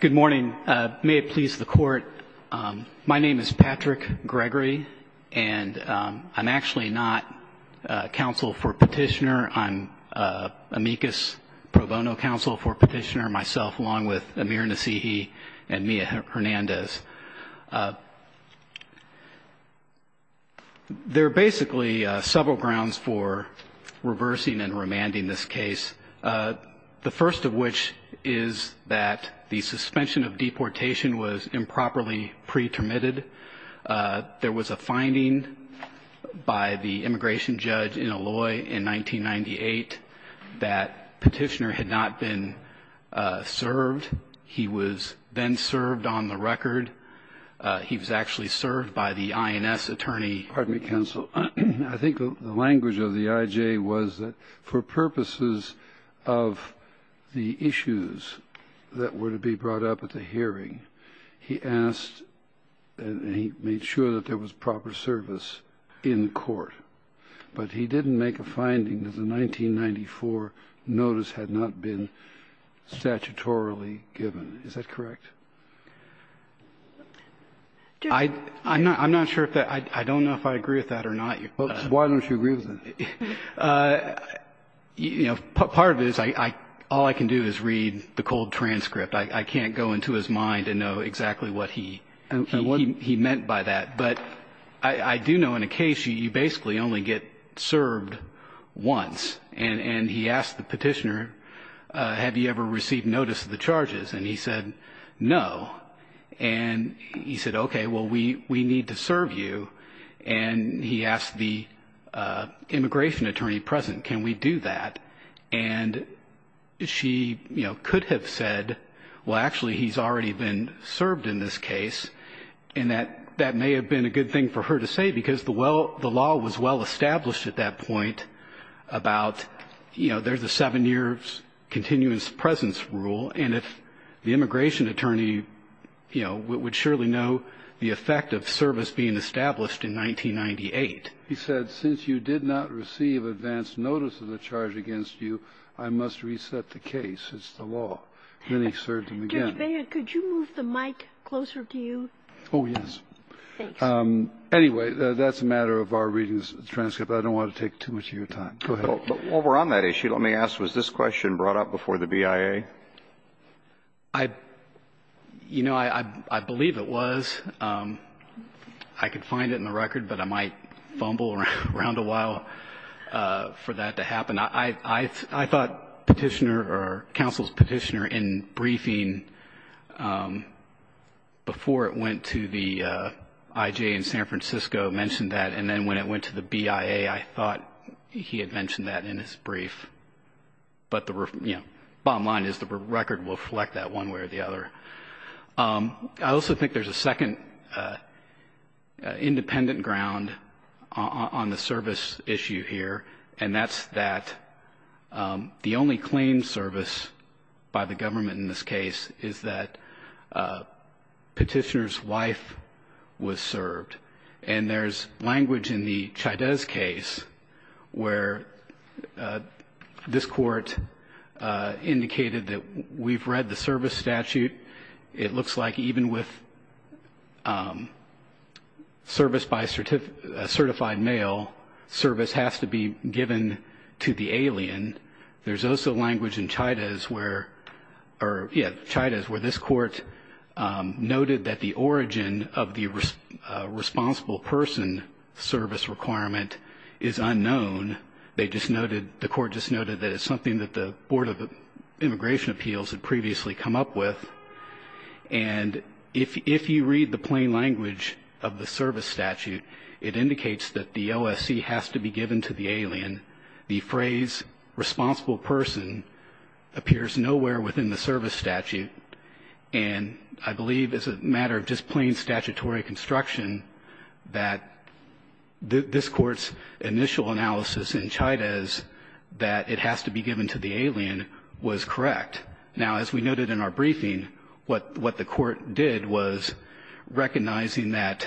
Good morning. May it please the court, my name is Patrick Gregory, and I'm actually not counsel for petitioner. I'm amicus pro bono counsel for petitioner myself, along with Amir Nassihi and Mia Hernandez. There are basically several grounds for reversing and remanding this case, the first of which is that the suspension of deportation was improperly pretermitted. There was a finding by the immigration judge in Alloy in 1998 that petitioner had not been served. He was then served on the record. He was actually served by the INS attorney. Pardon me, counsel. I think the language of the IJ was that for purposes of the issues that were to be brought up at the hearing, he asked and he made sure that there was proper service in court. But he didn't make a finding that the 1994 notice had not been statutorily given. Is that correct? I'm not sure if that – I don't know if I agree with that or not. Why don't you agree with that? You know, part of it is all I can do is read the cold transcript. I can't go into his mind and know exactly what he meant by that. But I do know in a case, you basically only get served once. And he asked the petitioner, have you ever received notice of the charges? And he said, no. And he said, OK, well, we need to serve you. And he asked the immigration attorney present, can we do that? And she could have said, well, actually, he's already been served in this case. And that may have been a good thing for her to say because the law was well-established at that point about there's a seven-year continuous presence rule. And if the immigration attorney would surely know the effect of service being established in 1998. He said, since you did not receive advance notice of the charge against you, I must reset the case. It's the law. Then he served him again. Could you move the mic closer to you? Oh, yes. Anyway, that's a matter of our reading the transcript. I don't want to take too much of your time. But while we're on that issue, let me ask, was this question brought up before the BIA? You know, I believe it was. I could find it in the record, but I might fumble around a while for that to happen. I thought Petitioner, or counsel's Petitioner, in briefing before it went to the IJ in San Francisco mentioned that. And then when it went to the BIA, I thought he had mentioned that in his brief. But the bottom line is the record will reflect that one way or the other. I also think there's a second independent ground on the service issue here. And that's that the only claimed service by the government in this case is that Petitioner's wife was served. And there's language in the Chaydez case where this court indicated that we've read the service statute. It looks like even with service by a certified male, service has to be given to the alien. There's also language in Chaydez where this court noted that the origin of the responsible person service requirement is unknown. They just noted, the court just noted that it's something that the Board of Immigration Appeals had previously come up with. And if you read the plain language of the service statute, it indicates that the OSC has to be given to the alien. The phrase responsible person appears nowhere within the service statute. And I believe it's a matter of just plain statutory construction that this court's initial analysis in Chaydez that it has to be given to the alien was correct. Now, as we noted in our briefing, what the court did was recognizing that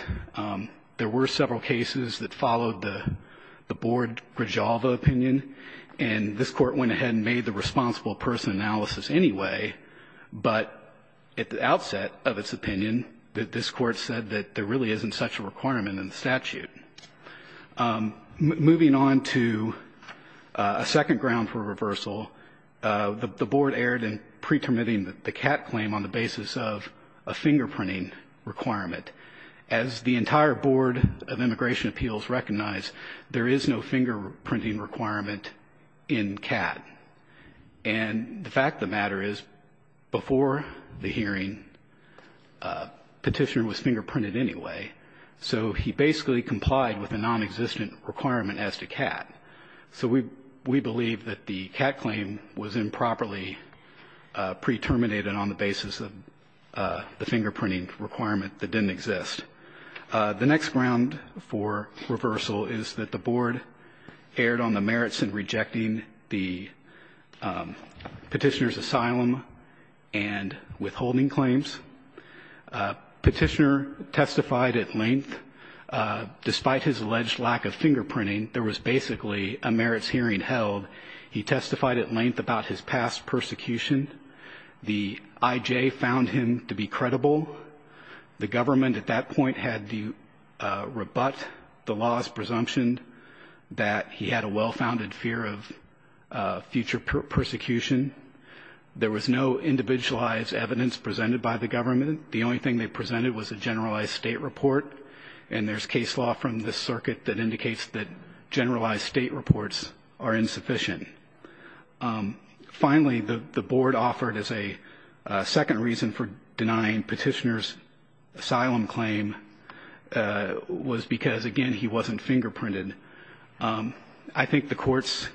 there were several cases that followed the Board Grijalva opinion. And this court went ahead and made the responsible person analysis anyway. But at the outset of its opinion, that this court said that there really isn't such a requirement in the statute. Moving on to a second ground for reversal, the board erred in pretermitting the CAT claim on the basis of a fingerprinting requirement. As the entire Board of Immigration Appeals recognized, there is no fingerprinting requirement in CAT. And the fact of the matter is, before the hearing, petitioner was fingerprinted anyway. So he basically complied with a non-existent requirement as to CAT. So we believe that the CAT claim was improperly pre-terminated on the basis of the fingerprinting requirement that didn't exist. The next ground for reversal is that the board erred on the merits in the petitioner's asylum and withholding claims. Petitioner testified at length, despite his alleged lack of fingerprinting, there was basically a merits hearing held. He testified at length about his past persecution. The IJ found him to be credible. The government at that point had to rebut the law's presumption that he had a well-founded fear of future persecution. There was no individualized evidence presented by the government. The only thing they presented was a generalized state report. And there's case law from the circuit that indicates that generalized state reports are insufficient. Finally, the board offered as a second reason for the IJ's refusal to provide a fingerprint to the alien. I think the court's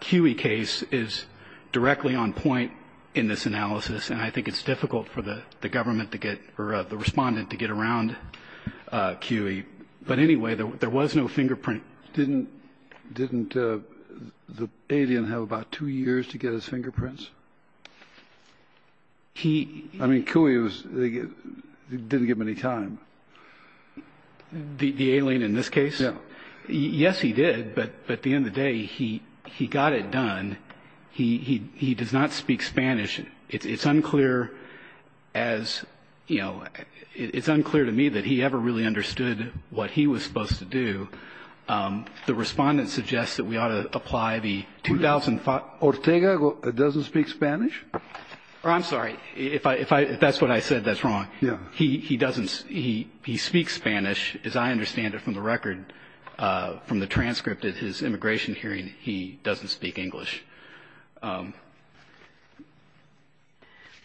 CUI case is directly on point in this analysis, and I think it's difficult for the government to get, or the respondent to get around CUI, but anyway, there was no fingerprint. Didn't the alien have about two years to get his fingerprints? I mean, CUI was, they didn't give him any time. The alien in this case? Yes, he did, but at the end of the day, he got it done. He does not speak Spanish. It's unclear to me that he ever really understood what he was supposed to do. The respondent suggests that we ought to apply the 2005- Ortega doesn't speak Spanish? I'm sorry, if that's what I said, that's wrong. Yeah. He doesn't, he speaks Spanish, as I understand it from the record, from the transcript at his immigration hearing, he doesn't speak English.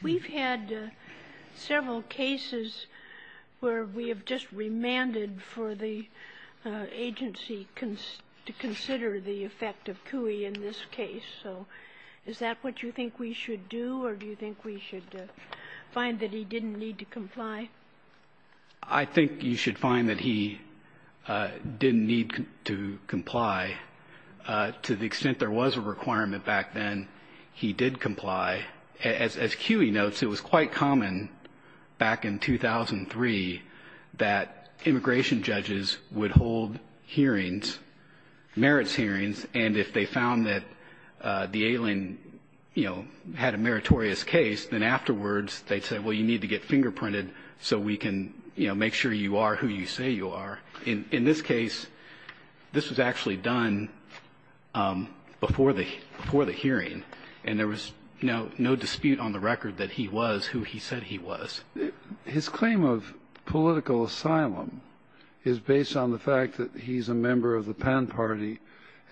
We've had several cases where we have just remanded for the agency to consider the effect of CUI in this case, so is that what you think we should do, or do you think we should find that he didn't need to comply? I think you should find that he didn't need to comply. To the extent there was a requirement back then, he did comply. As CUI notes, it was quite common back in 2003 that immigration judges would hold hearings, merits hearings, and if they found that the alien, you know, had a meritorious case, then afterwards they'd say, well, you need to get fingerprinted so we can, you know, make sure you are who you say you are. In this case, this was actually done before the hearing, and there was no dispute on the record that he was who he said he was. His claim of political asylum is based on the fact that he's a member of the Pan Party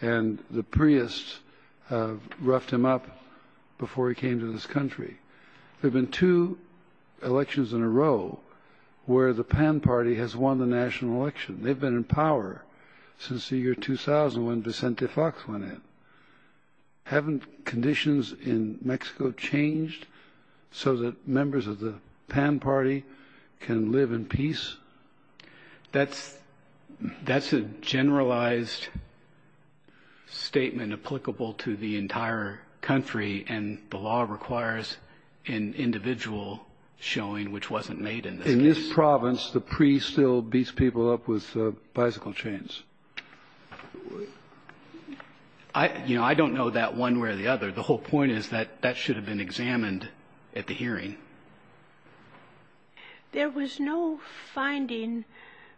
and the Priests roughed him up before he came to this country. There have been two elections in a row where the Pan Party has won the national election. They've been in power since the year 2000 when Vicente Fox went in. Haven't conditions in Mexico changed so that members of the Pan Party can live in peace? That's a generalized statement applicable to the entire country, and the law requires an individual showing which wasn't made in this case. In this province, the Priests still beat people up with bicycle chains. I don't know that one way or the other. The whole point is that that should have been examined at the hearing. There was no finding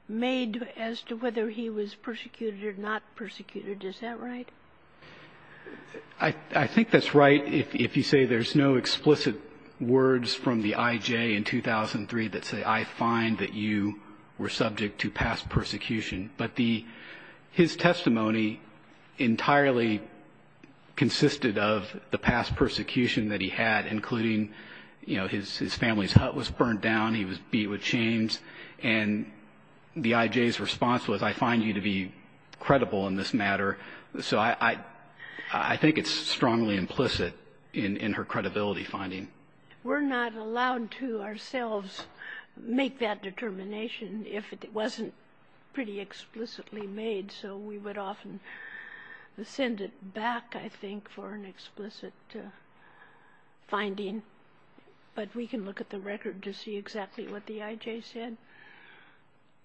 made as to whether he was persecuted or not persecuted. Is that right? I think that's right if you say there's no explicit words from the IJ in 2003 that say, I find that you were subject to past persecution. But his testimony entirely consisted of the past persecution that he had, including, you know, his family's hut was burned down. He was beat with chains. And the IJ's response was, I find you to be credible in this matter. So I think it's strongly implicit in her credibility finding. We're not allowed to ourselves make that determination if it wasn't pretty explicitly made. So we would often send it back, I think, for an explicit finding. But we can look at the record to see exactly what the IJ said.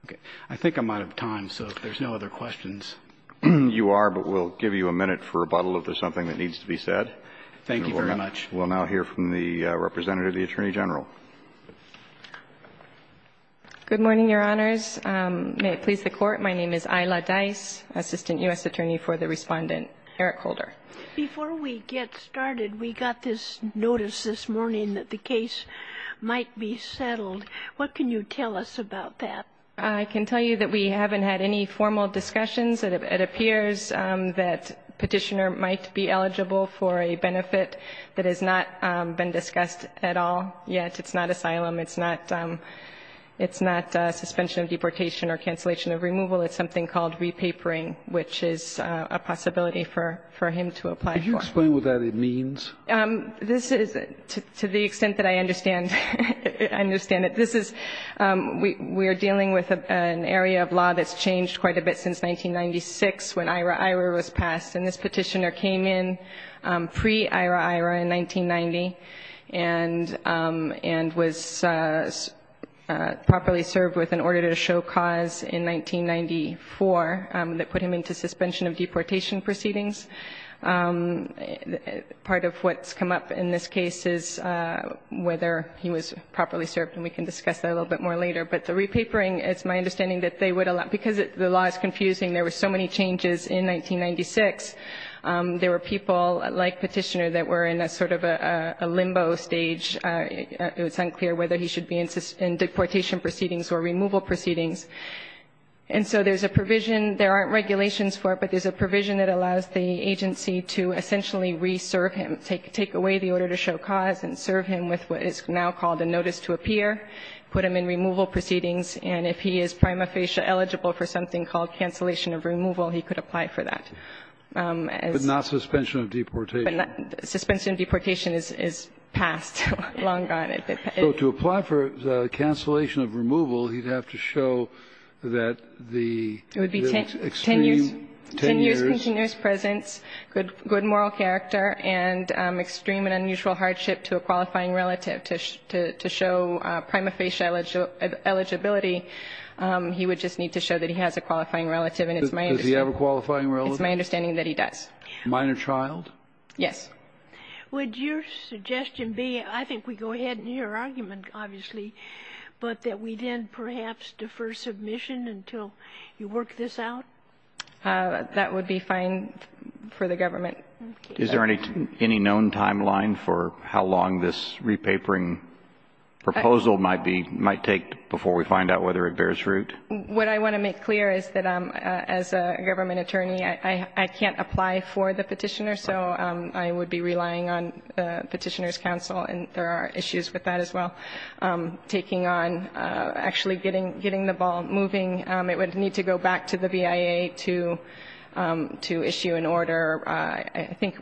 Okay. I think I'm out of time, so if there's no other questions. You are, but we'll give you a minute for rebuttal if there's something that needs to be said. Thank you very much. We'll now hear from the representative, the Attorney General. Good morning, Your Honors. May it please the Court. My name is Isla Dice, Assistant U.S. Attorney for the Respondent. Eric Holder. Before we get started, we got this notice this morning that the case might be settled. What can you tell us about that? I can tell you that we haven't had any formal discussions. It appears that Petitioner might be eligible for a benefit that has not been discussed at all yet. It's not asylum. It's not suspension of deportation or cancellation of removal. It's something called repapering, which is a possibility for him to apply for. Can you explain what that means? This is, to the extent that I understand it, this is we are dealing with an area of law that's changed quite a bit since 1996, when IHRA IHRA was passed. This petitioner came in pre-IHRA IHRA in 1990 and was properly served with an order to show cause in 1994 that put him into suspension of deportation proceedings. Part of what's come up in this case is whether he was properly served, and we can discuss that a little bit more later. But the repapering, it's my understanding that they would allow, because the law is in 1996, there were people like Petitioner that were in a sort of a limbo stage. It was unclear whether he should be in deportation proceedings or removal proceedings. And so there's a provision, there aren't regulations for it, but there's a provision that allows the agency to essentially re-serve him, take away the order to show cause and serve him with what is now called a notice to appear, put him in removal proceedings, and if he is prima facie eligible for something called cancellation of removal, he could apply for that. But not suspension of deportation. Suspension of deportation is passed long gone. So to apply for cancellation of removal, he'd have to show that the extreme 10 years. It would be 10 years, continuous presence, good moral character, and extreme and unusual hardship to a qualifying relative. To show prima facie eligibility, he would just need to show that he has a qualifying relative, and it's my understanding. Does he have a qualifying relative? It's my understanding that he does. Minor child? Yes. Would your suggestion be, I think we go ahead in your argument, obviously, but that we then perhaps defer submission until you work this out? That would be fine for the government. Is there any known timeline for how long this repapering proposal might be, might take before we find out whether it bears root? What I want to make clear is that as a government attorney, I can't apply for the petitioner, so I would be relying on the Petitioner's Council, and there are issues with that as well. Taking on, actually getting the ball moving, it would need to go back to the BIA to issue an order, I think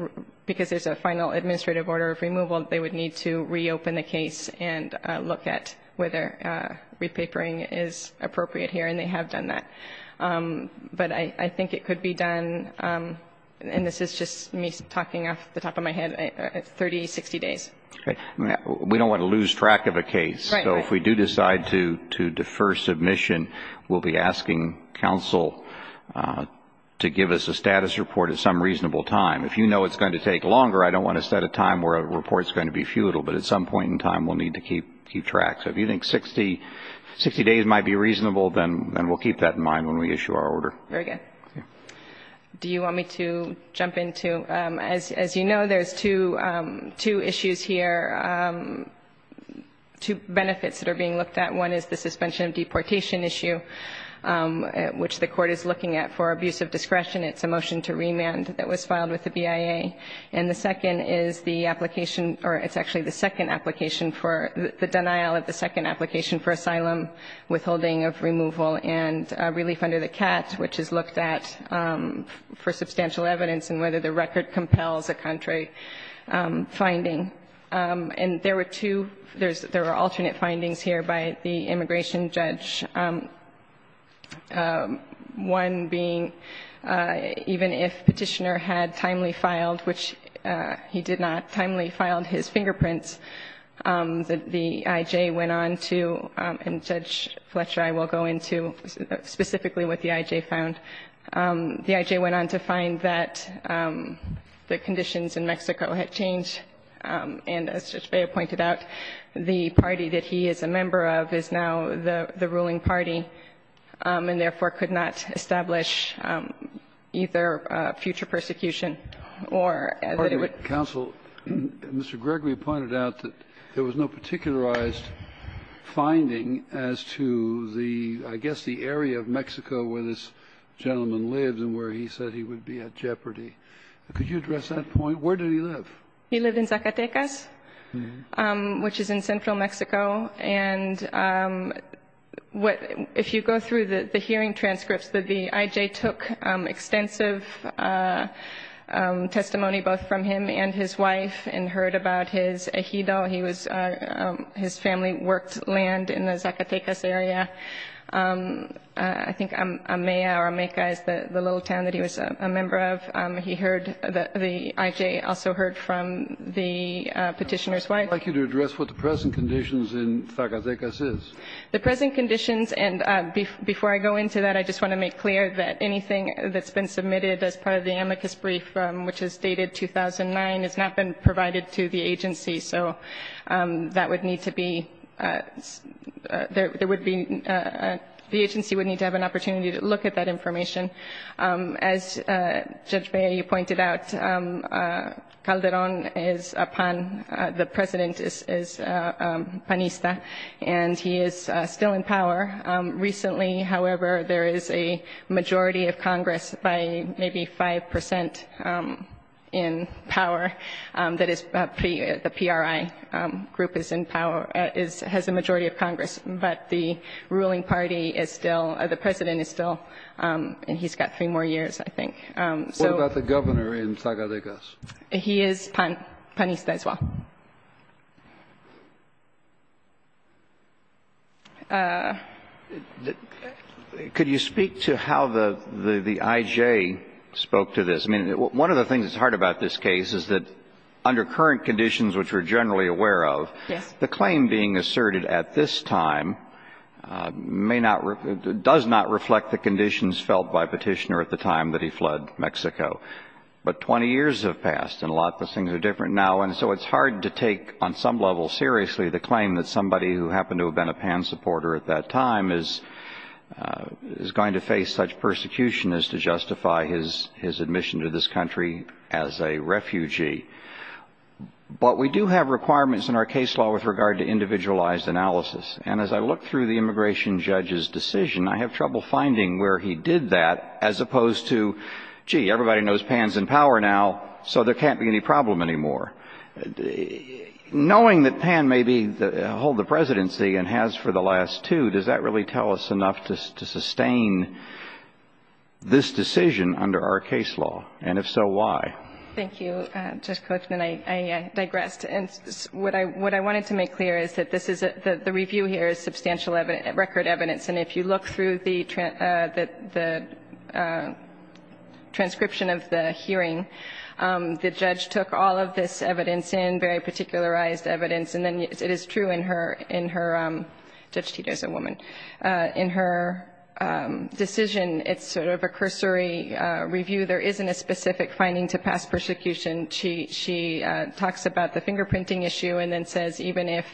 because there's a final administrative order of removal, they would need to reopen the case and look at whether repapering is appropriate here, and they have done that. But I think it could be done, and this is just me talking off the top of my head, 30, 60 days. We don't want to lose track of a case, so if we do decide to defer submission, we'll be asking counsel to give us a status report at some reasonable time. If you know it's going to take longer, I don't want to set a time where a report's going to be futile, but at some point in time, we'll need to keep track. So if you think 60 days might be reasonable, then we'll keep that in mind when we issue our order. Very good. Do you want me to jump in, too? As you know, there's two issues here, two benefits that are being looked at. One is the suspension of deportation issue, which the court is looking at for abuse of discretion. It's a motion to remand that was filed with the BIA. And the second is the application, or it's actually the second application for, the denial of the second application for asylum withholding of removal and relief under the CAT, which is looked at for substantial evidence and whether the record compels a contrary finding. And there were two, there were alternate findings here by the immigration judge, one being even if Petitioner had timely filed, which he did not timely filed his fingerprints, the I.J. went on to, and Judge Fletcher, I will go into specifically what the I.J. found. The I.J. went on to find that the conditions in Mexico had changed, and as Judge Beyer pointed out, the party that he is a member of is now the ruling party, and therefore could not establish either future persecution or that it would. Kennedy. Counsel, Mr. Gregory pointed out that there was no particularized finding as to the, I guess, the area of Mexico where this gentleman lives and where he said he would be at jeopardy. Could you address that point? Where did he live? He lived in Zacatecas, which is in central Mexico. And if you go through the hearing transcripts, the I.J. took extensive testimony both from him and his wife and heard about his ejido. He was, his family worked land in the Zacatecas area. I think Amea or Ameca is the little town that he was a member of. He heard, the I.J. also heard from the Petitioner's wife. I'd like you to address what the present conditions in Zacatecas is. The present conditions, and before I go into that, I just want to make clear that anything that's been submitted as part of the amicus brief, which is dated 2009, has not been provided to the agency. So that would need to be, there would be, the agency would need to have an opportunity to look at that information. As Judge Bea, you pointed out, Calderon is a pan, the president is panista. And he is still in power. Recently, however, there is a majority of Congress by maybe 5% in power. That is, the PRI group is in power, has a majority of Congress. But the ruling party is still, the president is still, and he's got three more years, I think. So. What about the governor in Zacatecas? He is pan, panista as well. Could you speak to how the I.J. spoke to this? I mean, one of the things that's hard about this case is that under current conditions, which we're generally aware of, the claim being asserted at this time may not, does not reflect the conditions felt by Petitioner at the time that he fled Mexico. But 20 years have passed, and a lot of things are different now. And so it's hard to take on some level seriously the claim that somebody who happened to have been a pan supporter at that time is going to face such persecution as to justify his admission to this country as a refugee. But we do have requirements in our case law with regard to individualized analysis. And as I look through the immigration judge's decision, I have trouble finding where he did that as opposed to, gee, everybody knows Pan's in power now, so there can't be any problem anymore. Knowing that Pan may hold the presidency and has for the last two, does that really tell us enough to sustain this decision under our case law? And if so, why? Thank you. Judge Coachman, I digressed. And what I wanted to make clear is that the review here is substantial record evidence. And if you look through the transcription of the hearing, the judge took all of this evidence in, very particularized evidence. And then it is true in her, Judge Tito's a woman, in her decision, it's sort of a cursory review. There isn't a specific finding to past persecution. She talks about the fingerprinting issue and then says even if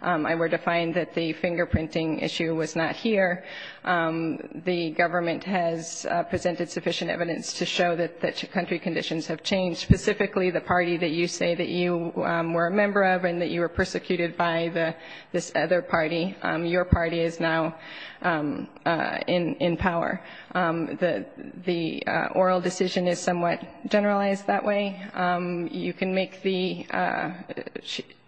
I were to find that the fingerprinting issue was not here, the government has presented sufficient evidence to show that country conditions have changed, specifically the party that you say that you were a member of and that you were persecuted by this other party, your party is now in power. The oral decision is somewhat generalized that way. You can make the,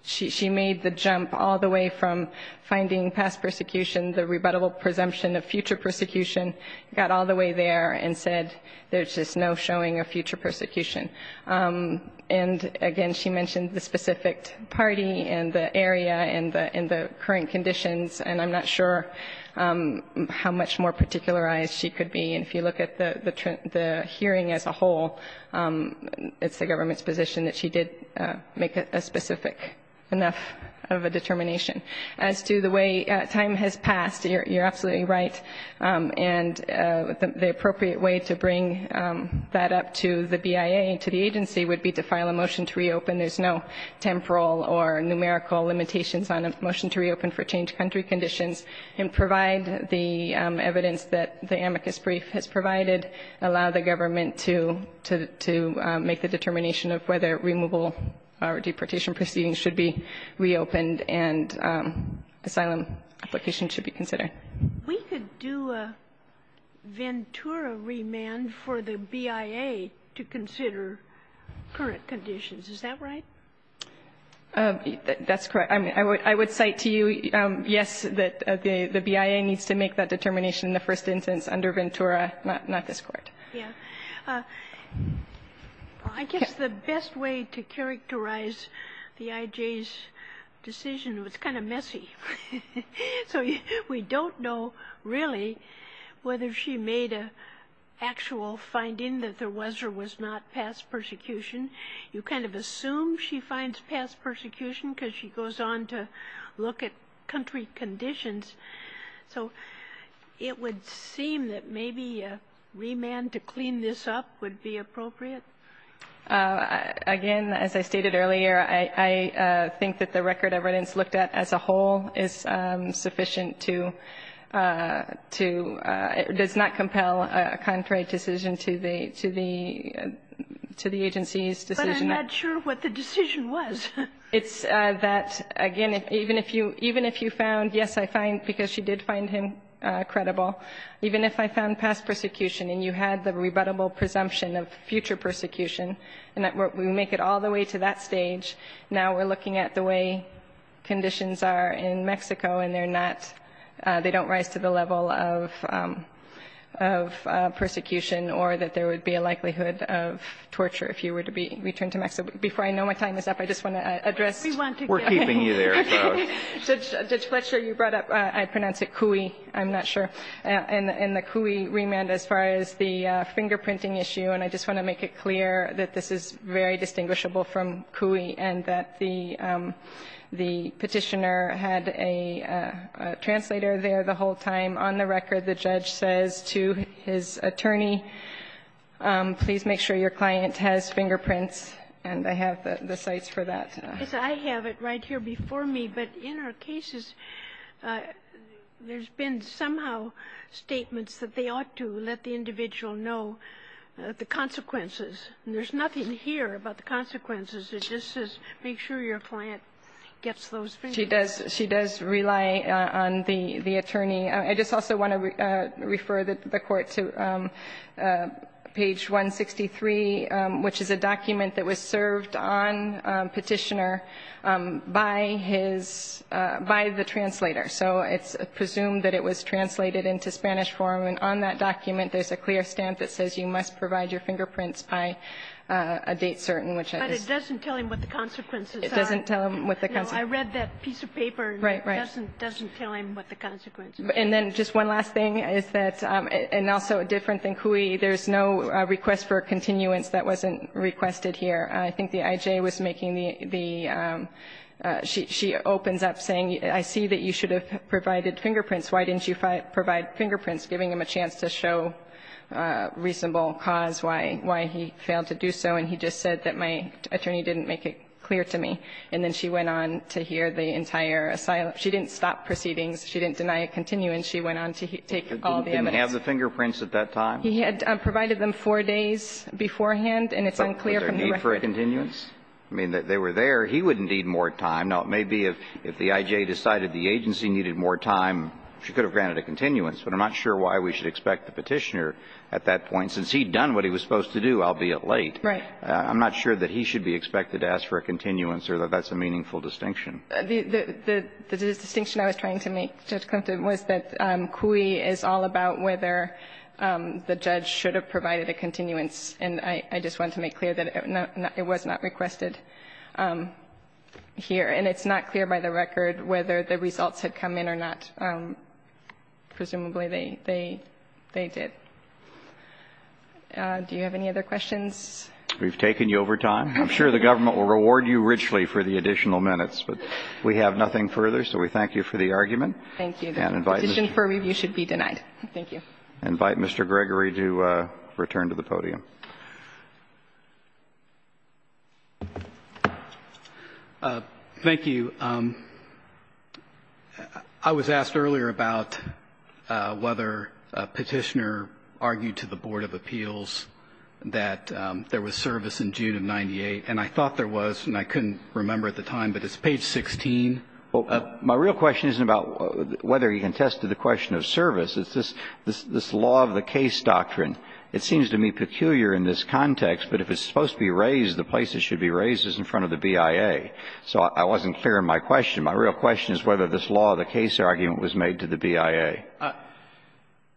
she made the jump all the way from finding past persecution, the rebuttable presumption of future persecution, got all the way there and said there's just no showing of future persecution. And again, she mentioned the specific party and the area and the current conditions, and I'm not sure how much more particularized she could be. And if you look at the hearing as a whole, it's the government's position that she did make a specific enough of a determination. As to the way time has passed, you're absolutely right. And the appropriate way to bring that up to the BIA and to the agency would be to file a motion to reopen. And there's no temporal or numerical limitations on a motion to reopen for change country conditions and provide the evidence that the amicus brief has provided, allow the government to make the determination of whether removal or deportation proceedings should be reopened and asylum application should be considered. We could do a Ventura remand for the BIA to consider current conditions. Is that right? That's correct. I would cite to you, yes, that the BIA needs to make that determination in the first instance under Ventura, not this Court. Yeah, I guess the best way to characterize the IJ's decision was kind of messy. So we don't know really whether she made an actual finding that there was or was not past persecution. You kind of assume she finds past persecution because she goes on to look at country conditions, so it would seem that maybe a remand to clean this up would be appropriate. Again, as I stated earlier, I think that the record of evidence looked at as a whole is sufficient to, to, it does not compel a contrary decision to the, to the, to the agency's decision. But I'm not sure what the decision was. It's that, again, even if you, even if you found, yes, I find, because she did find him credible, even if I found past persecution and you had the rebuttable presumption of future persecution and we make it all the way to that stage, now we're looking at the way conditions are in Mexico and they're not, they don't rise to the level of, of persecution or that there would be a likelihood of torture if you were to be returned to Mexico. Before I know my time is up, I just want to address. We're keeping you there. Judge Fletcher, you brought up, I pronounce it Cui, I'm not sure, and the Cui remand as far as the fingerprinting issue, and I just want to make it clear that this is very important. The Petitioner had a translator there the whole time. On the record, the judge says to his attorney, please make sure your client has fingerprints, and I have the sites for that. I have it right here before me, but in our cases, there's been somehow statements that they ought to let the individual know the consequences. There's nothing here about the consequences. It just says make sure your client gets those fingerprints. She does, she does rely on the attorney. I just also want to refer the court to page 163, which is a document that was served on Petitioner by his, by the translator. So it's presumed that it was translated into Spanish for him, and on that document, there's a clear stamp that says you must provide your fingerprints by a date certain, which is. But it doesn't tell him what the consequences are. It doesn't tell him what the consequences are. No, I read that piece of paper, and it doesn't tell him what the consequences are. And then just one last thing is that, and also different than Cui, there's no request for continuance that wasn't requested here. I think the IJ was making the, she opens up saying, I see that you should have provided fingerprints. Why didn't you provide fingerprints, giving him a chance to show reasonable cause why he failed to do so. And he just said that my attorney didn't make it clear to me. And then she went on to hear the entire, she didn't stop proceedings. She didn't deny a continuance. She went on to take all the evidence. He didn't have the fingerprints at that time? He had provided them four days beforehand, and it's unclear from the record. Was there a need for a continuance? I mean, they were there. He wouldn't need more time. Now, it may be if the IJ decided the agency needed more time, she could have granted a continuance. But I'm not sure why we should expect the Petitioner at that point. Since he'd done what he was supposed to do, albeit late. Right. I'm not sure that he should be expected to ask for a continuance or that that's a meaningful distinction. The distinction I was trying to make, Judge Klimt, was that CUI is all about whether the judge should have provided a continuance. And I just want to make clear that it was not requested here. And it's not clear by the record whether the results had come in or not. Presumably, they did. Do you have any other questions? We've taken you over time. I'm sure the government will reward you richly for the additional minutes. But we have nothing further, so we thank you for the argument. Thank you. And invite Mr. Gregory to return to the podium. Thank you. I was asked earlier about whether Petitioner argued to the Board of Appeals that there was service in June of 98. And I thought there was, and I couldn't remember at the time, but it's page 16. Well, my real question isn't about whether he contested the question of service. It's this law of the case doctrine. It seems to me peculiar in this context, but if it's supposed to be raised, the place it should be raised is in front of the BIA. So I wasn't clear in my question. My real question is whether this law of the case argument was made to the BIA.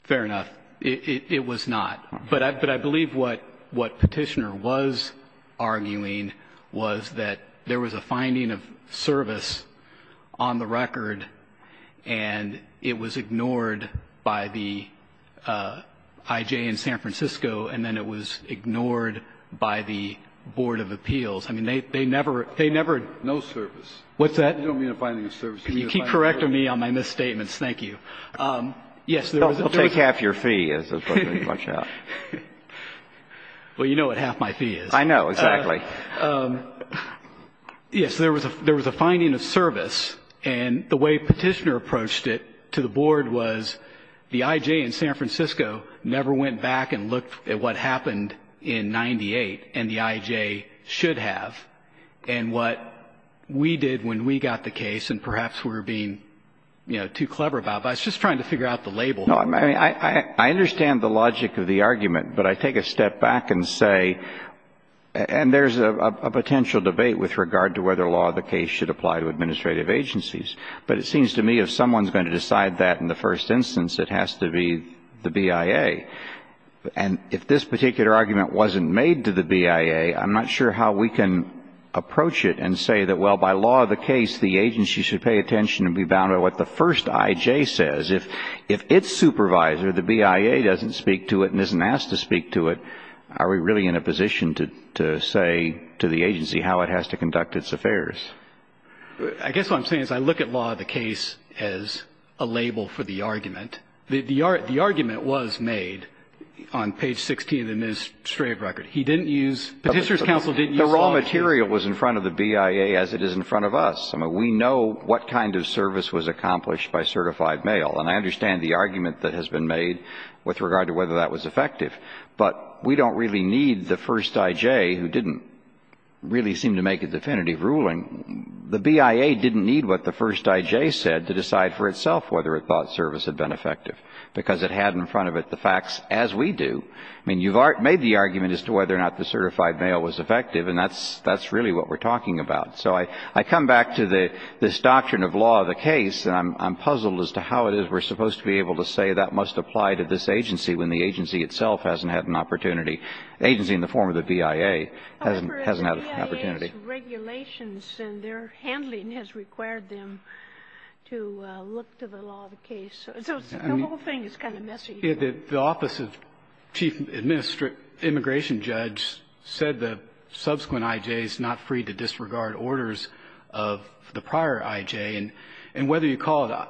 Fair enough. It was not. But I believe what Petitioner was arguing was that there was a finding of service on the record, and it was ignored by the IJ in San Francisco, and then it was ignored by the Board of Appeals. I mean, they never ---- No service. What's that? You don't mean a finding of service. Can you keep correct of me on my misstatements? Thank you. Yes, there was a ---- Well, take half your fee, as the President pointed out. Well, you know what half my fee is. I know. Exactly. Yes. There was a finding of service, and the way Petitioner approached it to the Board was the IJ in San Francisco never went back and looked at what happened in 1998 and the IJ should have, and what we did when we got the case, and perhaps we were being, you know, too clever about it. But I was just trying to figure out the label. No, I mean, I understand the logic of the argument, but I take a step back and say, and there's a potential debate with regard to whether law of the case should apply to administrative agencies, but it seems to me if someone is going to decide that in the first instance, it has to be the BIA. And if this particular argument wasn't made to the BIA, I'm not sure how we can approach it and say that, well, by law of the case, the agency should pay attention and be bound to what the first IJ says. If its supervisor, the BIA, doesn't speak to it and isn't asked to speak to it, are we really in a position to say to the agency how it has to conduct its affairs? I guess what I'm saying is I look at law of the case as a label for the argument. The argument was made on page 16 of the administrative record. He didn't use, Petitioner's counsel didn't use law of the case. The raw material was in front of the BIA as it is in front of us. I mean, we know what kind of service was accomplished by certified mail, and I understand the argument that has been made with regard to whether that was effective, but we don't really need the first IJ who didn't really seem to make a definitive ruling. The BIA didn't need what the first IJ said to decide for itself whether it thought service had been effective, because it had in front of it the facts as we do. I mean, you've made the argument as to whether or not the certified mail was effective, and that's really what we're talking about. So I come back to the doctrine of law of the case, and I'm puzzled as to how it is we're supposed to be able to say that must apply to this agency when the agency itself hasn't had an opportunity, the agency in the form of the BIA hasn't had an opportunity. The BIA's regulations and their handling has required them to look to the law of the case. So the whole thing is kind of messy. The office of chief immigration judge said the subsequent IJs not free to disregard orders of the prior IJ, and whether you call it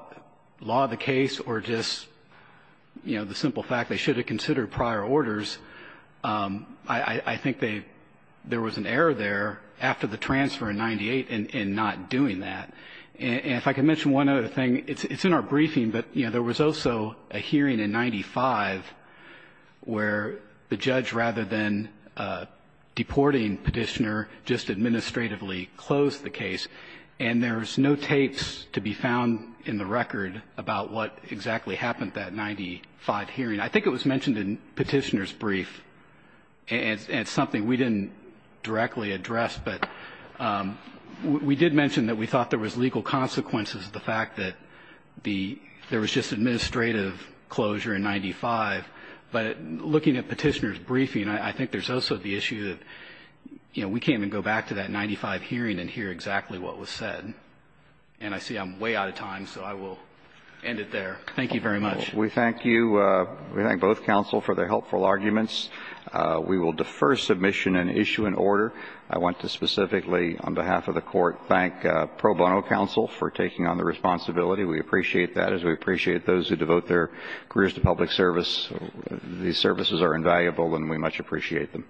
law of the case or just, you know, the simple fact they should have considered prior orders, I think there was an error there after the transfer in 98 in not doing that. And if I could mention one other thing, it's in our briefing, but, you know, there was also a hearing in 95 where the judge, rather than deporting Petitioner, just administratively closed the case, and there's no tapes to be found in the record about what exactly happened at that 95 hearing. I think it was mentioned in Petitioner's brief, and it's something we didn't directly address, but we did mention that we thought there was legal consequences of the fact that there was just administrative closure in 95, but looking at Petitioner's briefing, I think there's also the issue that, you know, we can't even go back to that 95 hearing and hear exactly what was said. And I see I'm way out of time, so I will end it there. Thank you very much. We thank you. We thank both counsel for their helpful arguments. We will defer submission and issue an order. I want to specifically, on behalf of the court, thank pro bono counsel for taking on the responsibility. We appreciate that, as we appreciate those who devote their careers to public service. These services are invaluable, and we much appreciate them.